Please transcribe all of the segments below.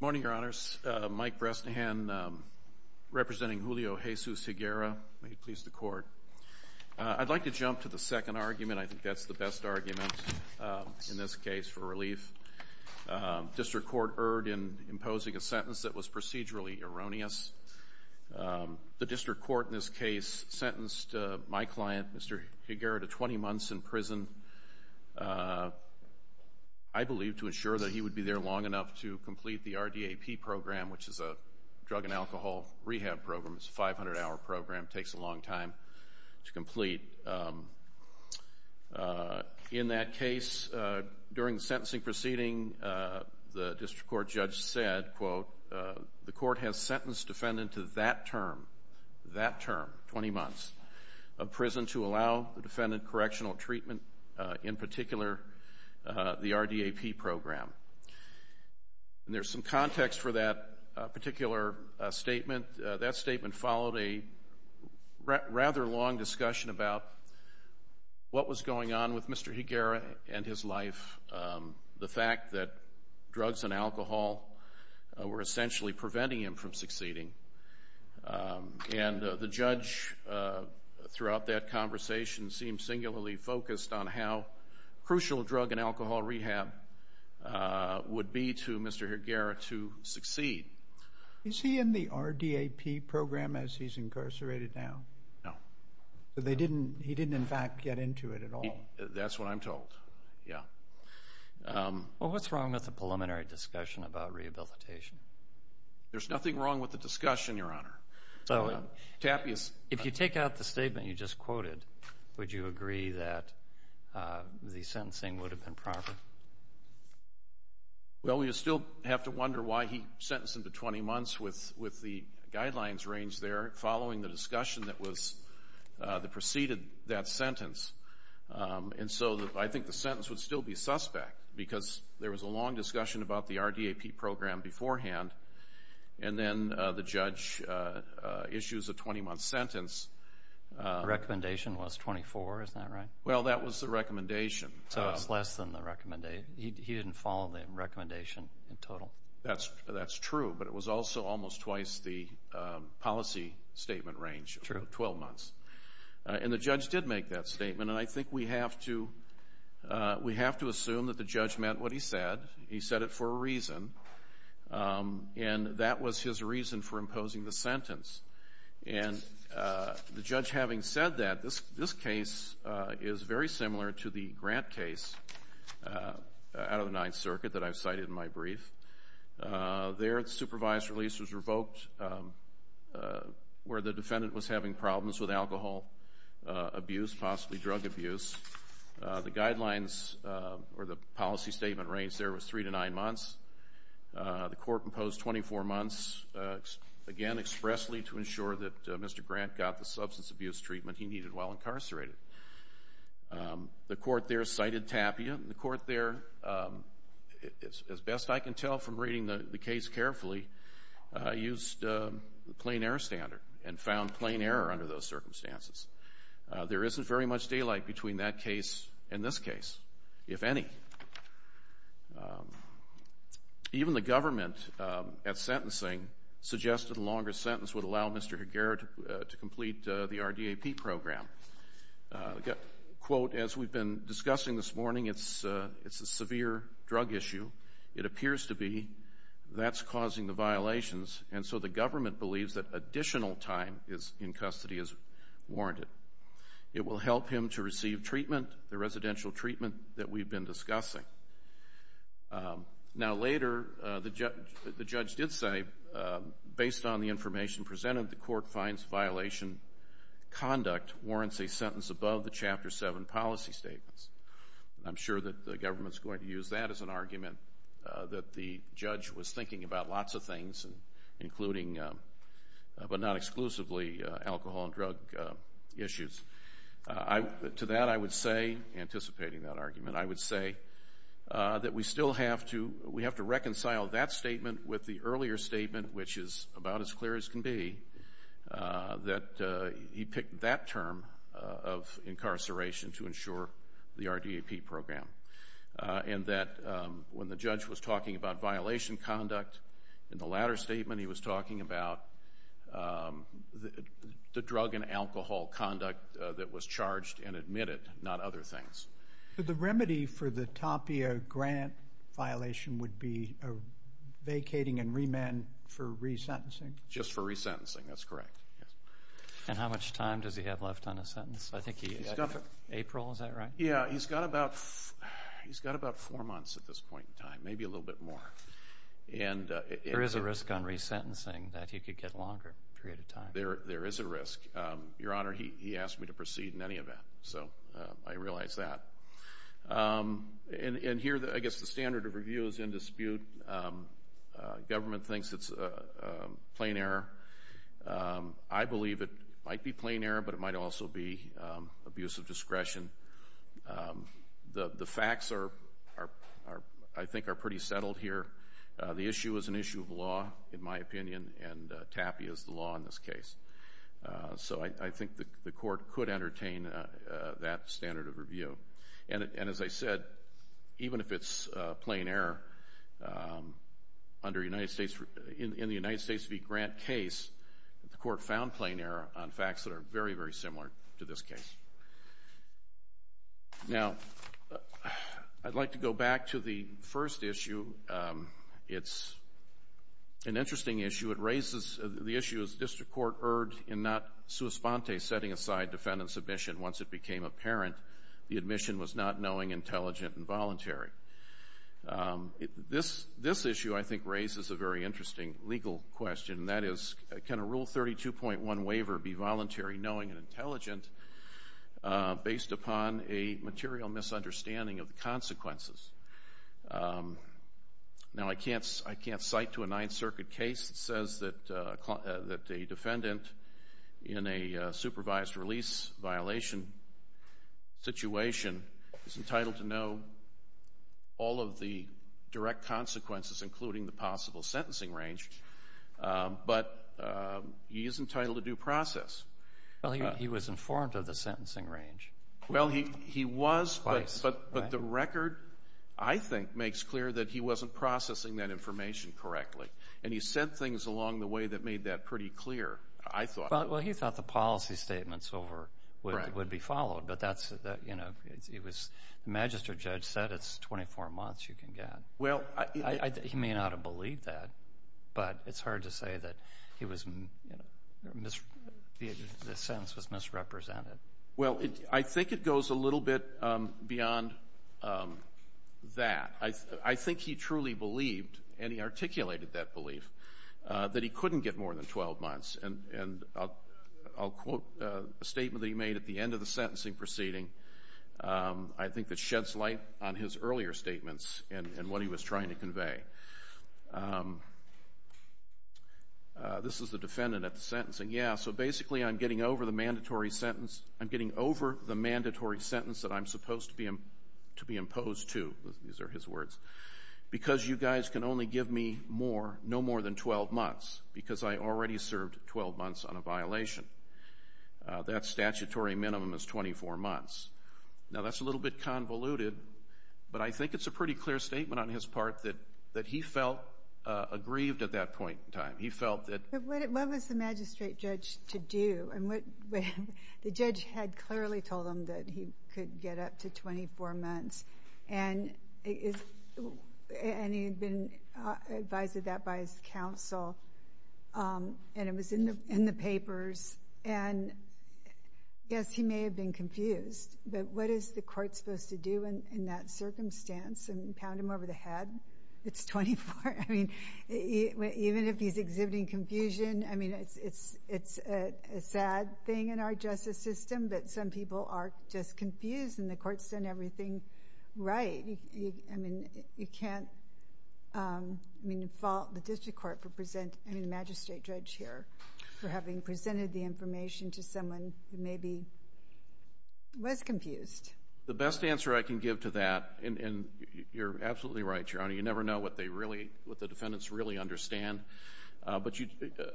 Morning, Your Honors. Mike Bresnahan, representing Julio Jesus Higuera. May it please the Court. I'd like to jump to the second argument. I think that's the best argument in this case for relief. District Court erred in imposing a sentence that was procedurally erroneous. The District Court in this case sentenced my client, Mr. Higuera, to 20 months in prison, I believe to ensure that he would be there long enough to complete the RDAP program, which is a drug and alcohol rehab program. It's a 500-hour program. It takes a long time to complete. In that case, during the sentencing proceeding, the District Court judge said, and I quote, the Court has sentenced defendant to that term, that term, 20 months of prison to allow the defendant correctional treatment, in particular, the RDAP program. And there's some context for that particular statement. That statement followed a rather long discussion about what was going on with Mr. Higuera and his life, the fact that drugs and alcohol were essentially preventing him from succeeding. And the judge, throughout that conversation, seemed singularly focused on how crucial drug and alcohol rehab would be to Mr. Higuera to succeed. Is he in the RDAP program as he's incarcerated now? No. So he didn't, in fact, get into it at all? That's what I'm told, yeah. Well, what's wrong with the preliminary discussion about rehabilitation? There's nothing wrong with the discussion, Your Honor. If you take out the statement you just quoted, would you agree that the sentencing would have been proper? Well, we still have to wonder why he sentenced him to 20 months with the guidelines arranged there following the discussion that preceded that sentence. And so I think the sentence would still be suspect because there was a long discussion about the RDAP program beforehand, and then the judge issues a 20-month sentence. The recommendation was 24, isn't that right? Well, that was the recommendation. So it's less than the recommendation. He didn't follow the recommendation in total. That's true, but it was also almost twice the policy statement range of 12 months. And the judge did make that statement, and I think we have to assume that the judge meant what he said. He said it for a reason, and that was his reason for imposing the sentence. And the judge having said that, this case is very similar to the Grant case out of the Ninth Circuit that I've cited in my brief. There the supervised release was revoked where the defendant was having problems with alcohol abuse, possibly drug abuse. The guidelines or the policy statement range there was 3 to 9 months. The court imposed 24 months, again, expressly to ensure that Mr. Grant got the substance abuse treatment he needed while incarcerated. The court there cited Tapia, and the court there, as best I can tell from reading the case carefully, used the plain error standard and found plain error under those circumstances. There isn't very much daylight between that case and this case, if any. Even the government at sentencing suggested a longer sentence would allow Mr. Higuera to complete the RDAP program. Quote, as we've been discussing this morning, it's a severe drug issue. It appears to be that's causing the violations, and so the government believes that additional time in custody is warranted. It will help him to receive treatment, the residential treatment that we've been discussing. Now, later, the judge did say, based on the information presented, the court finds violation conduct warrants a sentence above the Chapter 7 policy statements. I'm sure that the government's going to use that as an argument that the judge was thinking about lots of things, including, but not exclusively, alcohol and drug issues. To that I would say, anticipating that argument, I would say that we still have to reconcile that statement with the earlier statement, which is about as clear as can be, that he picked that term of incarceration to ensure the RDAP program, and that when the judge was talking about violation conduct in the latter statement, he was talking about the drug and alcohol conduct that was charged and admitted, not other things. The remedy for the TAPIA grant violation would be vacating and remand for resentencing? Just for resentencing, that's correct. And how much time does he have left on a sentence? I think he's got April, is that right? Yeah, he's got about four months at this point in time, maybe a little bit more. There is a risk on resentencing that he could get a longer period of time. There is a risk. Your Honor, he asked me to proceed in any event, so I realize that. And here, I guess the standard of review is in dispute. Government thinks it's a plain error. I believe it might be plain error, but it might also be abuse of discretion. The facts, I think, are pretty settled here. The issue is an issue of law, in my opinion, and TAPIA is the law in this case. So I think the Court could entertain that standard of review. And as I said, even if it's plain error, in the United States v. Grant case, the Court found plain error on facts that are very, very similar to this case. Now, I'd like to go back to the first issue. It's an interesting issue. It raises the issue, as the District Court erred, in not sua sponte setting aside defendant's admission once it became apparent the admission was not knowing, intelligent, and voluntary. This issue, I think, raises a very interesting legal question, and that is, can a Rule 32.1 waiver be voluntary, knowing, and intelligent, based upon a material misunderstanding of the consequences? Now, I can't cite to a Ninth Circuit case that says that a defendant in a supervised release violation situation is entitled to know all of the direct consequences, including the possible sentencing range. But he is entitled to due process. Well, he was informed of the sentencing range. Well, he was, but the record, I think, makes clear that he wasn't processing that information correctly. And he said things along the way that made that pretty clear, I thought. Well, he thought the policy statements would be followed, but that's, you know, the magistrate judge said it's 24 months you can get. He may not have believed that, but it's hard to say that he was, you know, the sentence was misrepresented. Well, I think it goes a little bit beyond that. I think he truly believed, and he articulated that belief, that he couldn't get more than 12 months. And I'll quote a statement that he made at the end of the sentencing proceeding. I think that sheds light on his earlier statements and what he was trying to convey. This is the defendant at the sentencing. Yeah, so basically I'm getting over the mandatory sentence. I'm getting over the mandatory sentence that I'm supposed to be imposed to. These are his words. Because you guys can only give me more, no more than 12 months, because I already served 12 months on a violation. That statutory minimum is 24 months. Now, that's a little bit convoluted, but I think it's a pretty clear statement on his part that he felt aggrieved at that point in time. He felt that. What was the magistrate judge to do? The judge had clearly told him that he could get up to 24 months, and he had been advised of that by his counsel, and it was in the papers. And, yes, he may have been confused, but what is the court supposed to do in that circumstance and pound him over the head? It's 24. I mean, even if he's exhibiting confusion, I mean, it's a sad thing in our justice system, but some people are just confused, and the court's done everything right. You can't fault the district court for presenting the magistrate judge here for having presented the information to someone who maybe was confused. The best answer I can give to that, and you're absolutely right, Your Honor, you never know what the defendants really understand, but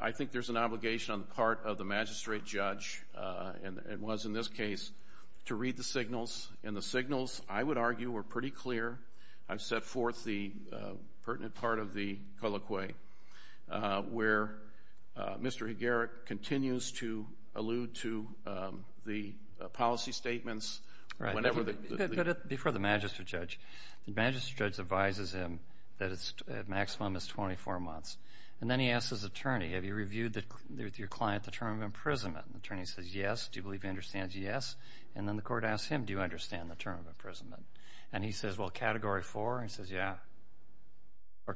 I think there's an obligation on the part of the magistrate judge, and the signals, I would argue, were pretty clear. I've set forth the pertinent part of the colloquy, where Mr. Higueric continues to allude to the policy statements. Before the magistrate judge, the magistrate judge advises him that the maximum is 24 months, and then he asks his attorney, have you reviewed with your client the term of imprisonment? The attorney says, yes. Do you believe he understands? Yes. And then the court asks him, do you understand the term of imprisonment? And he says, well, Category 4? He says, yeah.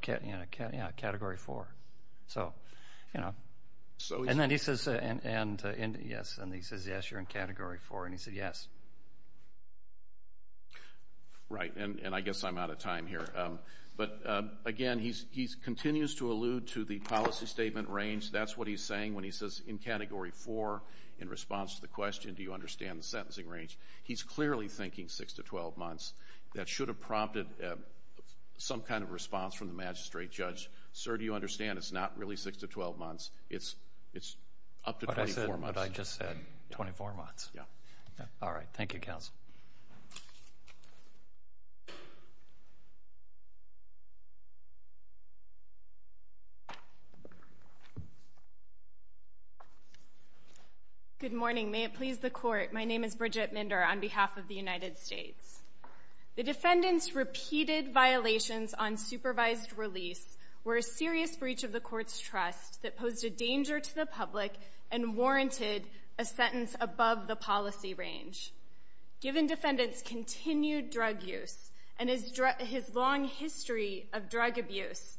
Yeah, Category 4. So, you know. And then he says, yes, you're in Category 4. And he said, yes. Right, and I guess I'm out of time here. But, again, he continues to allude to the policy statement range. That's what he's saying when he says, in Category 4, in response to the question, do you understand the sentencing range, he's clearly thinking 6 to 12 months. That should have prompted some kind of response from the magistrate judge. Sir, do you understand? It's not really 6 to 12 months. It's up to 24 months. What I just said, 24 months. Yeah. All right. Thank you, counsel. Thank you. Good morning. May it please the Court, my name is Bridget Minder on behalf of the United States. The defendant's repeated violations on supervised release were a serious breach of the court's trust that posed a danger to the public and warranted a sentence above the policy range. Given defendant's continued drug use and his long history of drug abuse,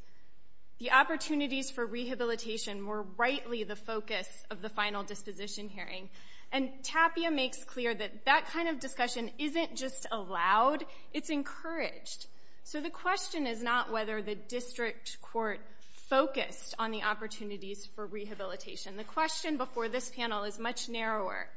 the opportunities for rehabilitation were rightly the focus of the final disposition hearing. And Tapia makes clear that that kind of discussion isn't just allowed, it's encouraged. So the question is not whether the district court focused on the opportunities for rehabilitation. The question before this panel is much narrower.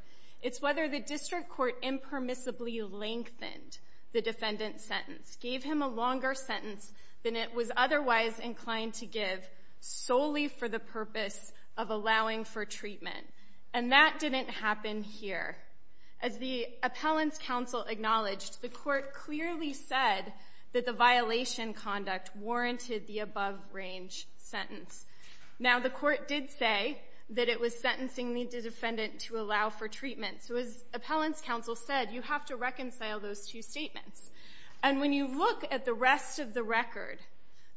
It's whether the district court impermissibly lengthened the defendant's sentence, gave him a longer sentence than it was otherwise inclined to give, solely for the purpose of allowing for treatment. And that didn't happen here. As the appellant's counsel acknowledged, the court clearly said that the violation conduct warranted the above-range sentence. Now, the court did say that it was sentencing the defendant to allow for treatment. So as appellant's counsel said, you have to reconcile those two statements. And when you look at the rest of the record,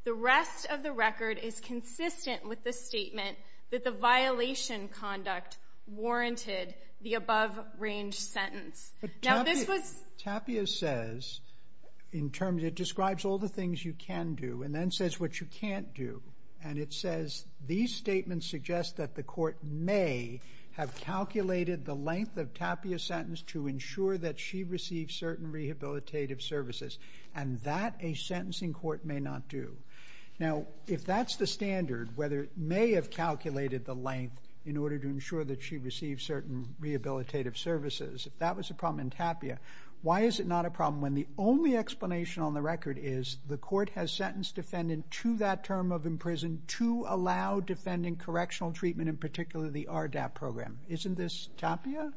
the rest of the record is consistent with the statement that the violation conduct warranted the above-range sentence. Now, this was... Tapia says, in terms, it describes all the things you can do and then says what you can't do. And it says these statements suggest that the court may have calculated the length of Tapia's sentence to ensure that she received certain rehabilitative services. And that a sentencing court may not do. Now, if that's the standard, whether it may have calculated the length in order to ensure that she received certain rehabilitative services, if that was a problem in Tapia, why is it not a problem when the only explanation on the record is the court has sentenced defendant to that term of imprisonment to allow defendant correctional treatment, in particular, the RDAP program? Isn't this Tapia?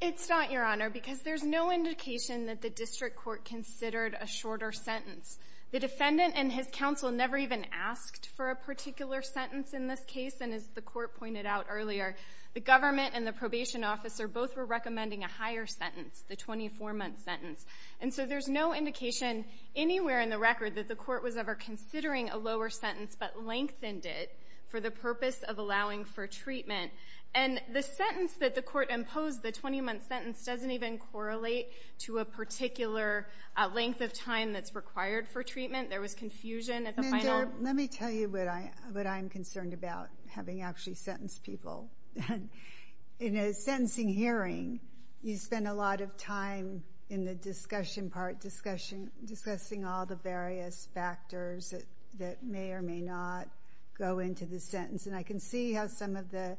It's not, Your Honor, because there's no indication that the district court considered a shorter sentence. The defendant and his counsel never even asked for a particular sentence in this case. And as the court pointed out earlier, the government and the probation officer both were recommending a higher sentence, the 24-month sentence. And so there's no indication anywhere in the record that the court was ever considering a lower sentence but lengthened it for the purpose of allowing for treatment. And the sentence that the court imposed, the 20-month sentence, doesn't even correlate to a particular length of time that's required for treatment. There was confusion at the final. Let me tell you what I'm concerned about, having actually sentenced people. In a sentencing hearing, you spend a lot of time in the discussion part, discussing all the various factors that may or may not go into the sentence. And I can see how some of the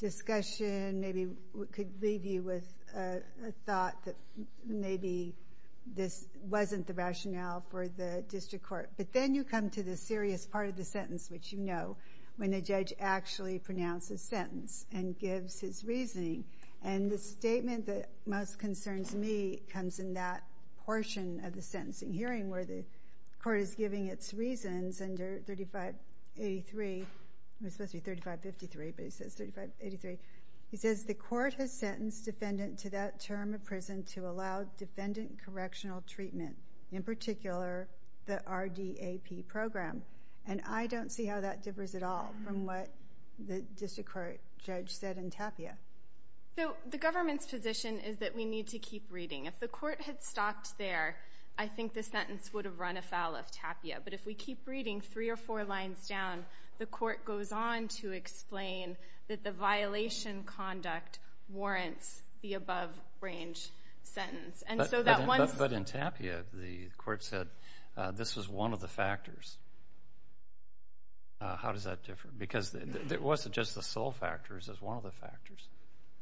discussion maybe could leave you with a thought that maybe this wasn't the rationale for the district court. But then you come to the serious part of the sentence, which you know, when the judge actually pronounces a sentence and gives his reasoning. And the statement that most concerns me comes in that portion of the sentencing hearing where the court is giving its reasons under 3583. It was supposed to be 3553, but it says 3583. It says the court has sentenced defendant to that term of prison to allow defendant correctional treatment, in particular the RDAP program. And I don't see how that differs at all from what the district court judge said in Tapia. The government's position is that we need to keep reading. If the court had stopped there, I think the sentence would have run afoul of Tapia. But if we keep reading three or four lines down, the court goes on to explain that the violation conduct warrants the above-range sentence. But in Tapia, the court said this was one of the factors. How does that differ? Because it wasn't just the sole factors. It was one of the factors.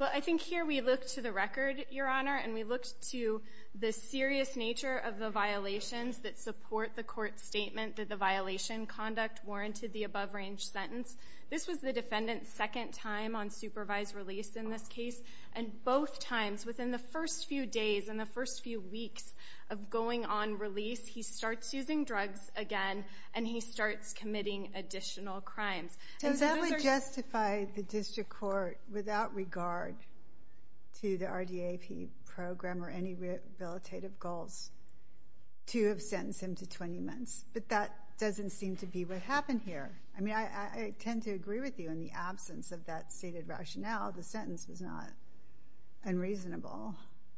Well, I think here we look to the record, Your Honor, and we looked to the serious nature of the violations that support the court's statement that the violation conduct warranted the above-range sentence. This was the defendant's second time on supervised release in this case. And both times, within the first few days and the first few weeks of going on release, he starts using drugs again and he starts committing additional crimes. So that would justify the district court, without regard to the RDAP program or any rehabilitative goals, to have sentenced him to 20 months. But that doesn't seem to be what happened here. I mean, I tend to agree with you. In the absence of that stated rationale, the sentence was not unreasonable.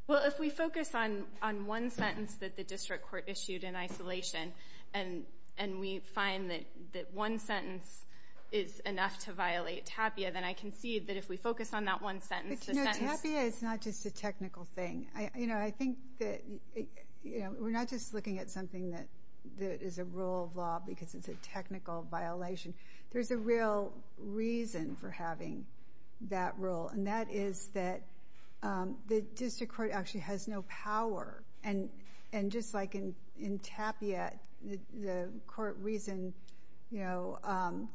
Well, if we focus on one sentence that the district court issued in isolation and we find that one sentence is enough to violate TAPIA, then I concede that if we focus on that one sentence, the sentence... But, you know, TAPIA is not just a technical thing. You know, I think that we're not just looking at something that is a rule of law because it's a technical violation. There's a real reason for having that rule, and that is that the district court actually has no power. And just like in TAPIA, the court reason, you know,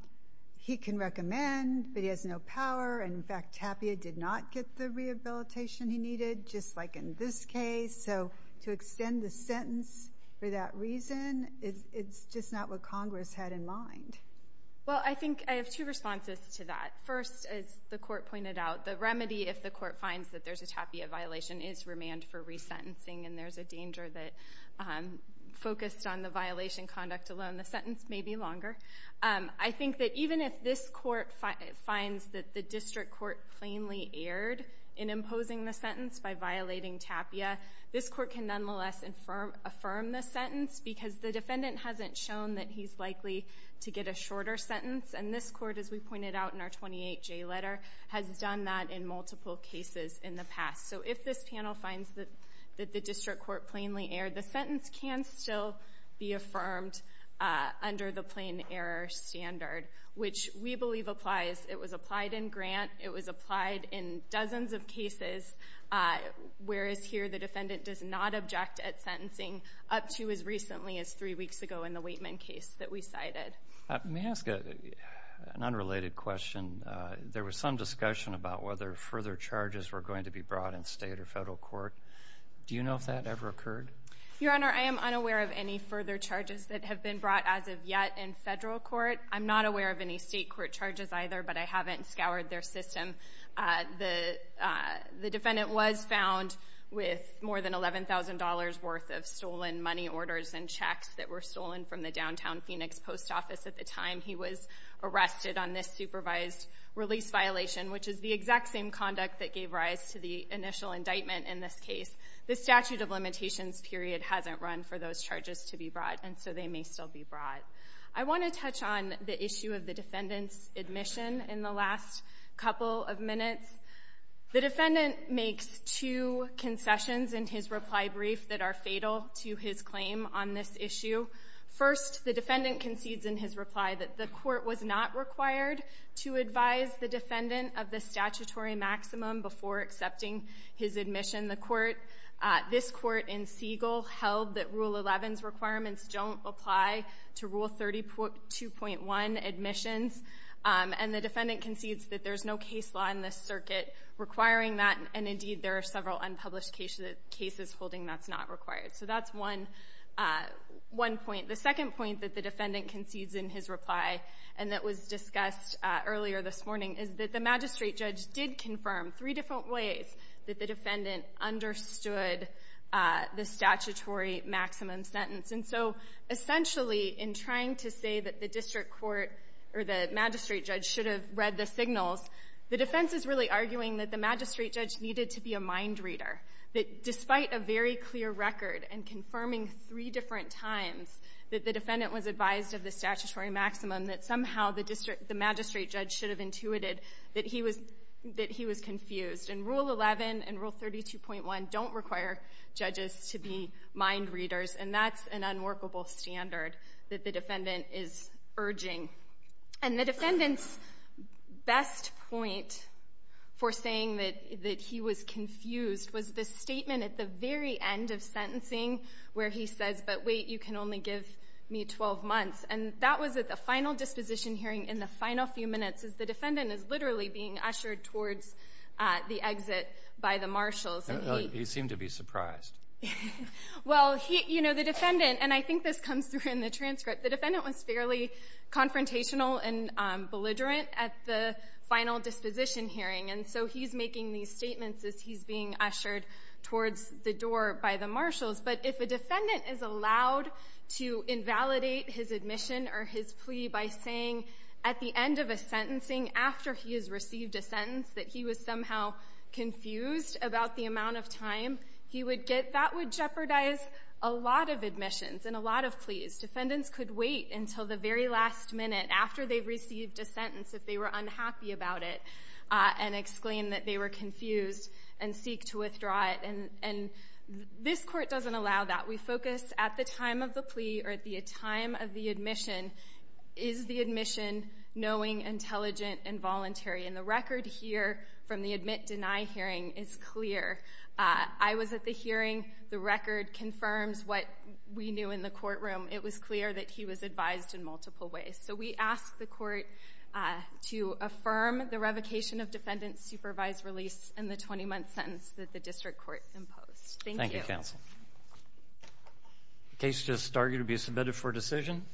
he can recommend, but he has no power. And, in fact, TAPIA did not get the rehabilitation he needed, just like in this case. So to extend the sentence for that reason, it's just not what Congress had in mind. Well, I think I have two responses to that. First, as the court pointed out, the remedy if the court finds that there's a TAPIA violation is remand for resentencing, and there's a danger that focused on the violation conduct alone, the sentence may be longer. I think that even if this court finds that the district court plainly erred in imposing the sentence by violating TAPIA, this court can nonetheless affirm the sentence because the defendant hasn't shown that he's likely to get a shorter sentence. And this court, as we pointed out in our 28J letter, has done that in multiple cases in the past. So if this panel finds that the district court plainly erred, the sentence can still be affirmed under the plain error standard, which we believe applies. It was applied in Grant. It was applied in dozens of cases, whereas here the defendant does not object at sentencing up to as recently as three weeks ago in the Waitman case that we cited. Let me ask an unrelated question. There was some discussion about whether further charges were going to be brought in state or federal court. Do you know if that ever occurred? Your Honor, I am unaware of any further charges that have been brought as of yet in federal court. I'm not aware of any state court charges either, but I haven't scoured their system. The defendant was found with more than $11,000 worth of stolen money, orders, and checks that were stolen from the downtown Phoenix post office at the time he was arrested on this supervised release violation, which is the exact same conduct that gave rise to the initial indictment in this case. The statute of limitations period hasn't run for those charges to be brought, and so they may still be brought. I want to touch on the issue of the defendant's admission in the last couple of minutes. The defendant makes two concessions in his reply brief that are fatal to his claim on this issue. First, the defendant concedes in his reply that the court was not required to advise the defendant of the statutory maximum before accepting his admission. The court, this court in Siegel, held that Rule 11's requirements don't apply to Rule 32.1 admissions. And the defendant concedes that there's no case law in this circuit requiring that, and indeed there are several unpublished cases holding that's not required. So that's one point. The second point that the defendant concedes in his reply and that was discussed earlier this morning is that the magistrate judge did confirm three different ways that the defendant understood the statutory maximum sentence. And so essentially in trying to say that the district court or the magistrate judge should have read the signals, the defense is really arguing that the magistrate judge needed to be a mind reader, that despite a very clear record and confirming three different times that the defendant was advised of the statutory maximum, that somehow the magistrate judge should have intuited that he was confused. And Rule 11 and Rule 32.1 don't require judges to be mind readers, and that's an unworkable standard that the defendant is urging. And the defendant's best point for saying that he was confused was the statement at the very end of sentencing where he says, but wait, you can only give me 12 months. And that was at the final disposition hearing in the final few minutes, as the defendant is literally being ushered towards the exit by the marshals. And he seemed to be surprised. Well, you know, the defendant, and I think this comes through in the transcript, the defendant was fairly confrontational and belligerent at the final disposition hearing, and so he's making these statements as he's being ushered towards the door by the marshals. But if a defendant is allowed to invalidate his admission or his plea by saying at the end of a sentencing after he has received a sentence that he was somehow confused about the amount of time he would get, that would jeopardize a lot of admissions and a lot of pleas. Defendants could wait until the very last minute after they've received a sentence if they were unhappy about it and exclaim that they were confused and seek to withdraw it. And this Court doesn't allow that. We focus at the time of the plea or at the time of the admission, is the admission knowing, intelligent, and voluntary? And the record here from the admit-deny hearing is clear. I was at the hearing. The record confirms what we knew in the courtroom. It was clear that he was advised in multiple ways. So we ask the Court to affirm the revocation of defendant's supervised release and the 20-month sentence that the District Court imposed. Thank you. Thank you, Counsel. The case has started to be submitted for decision.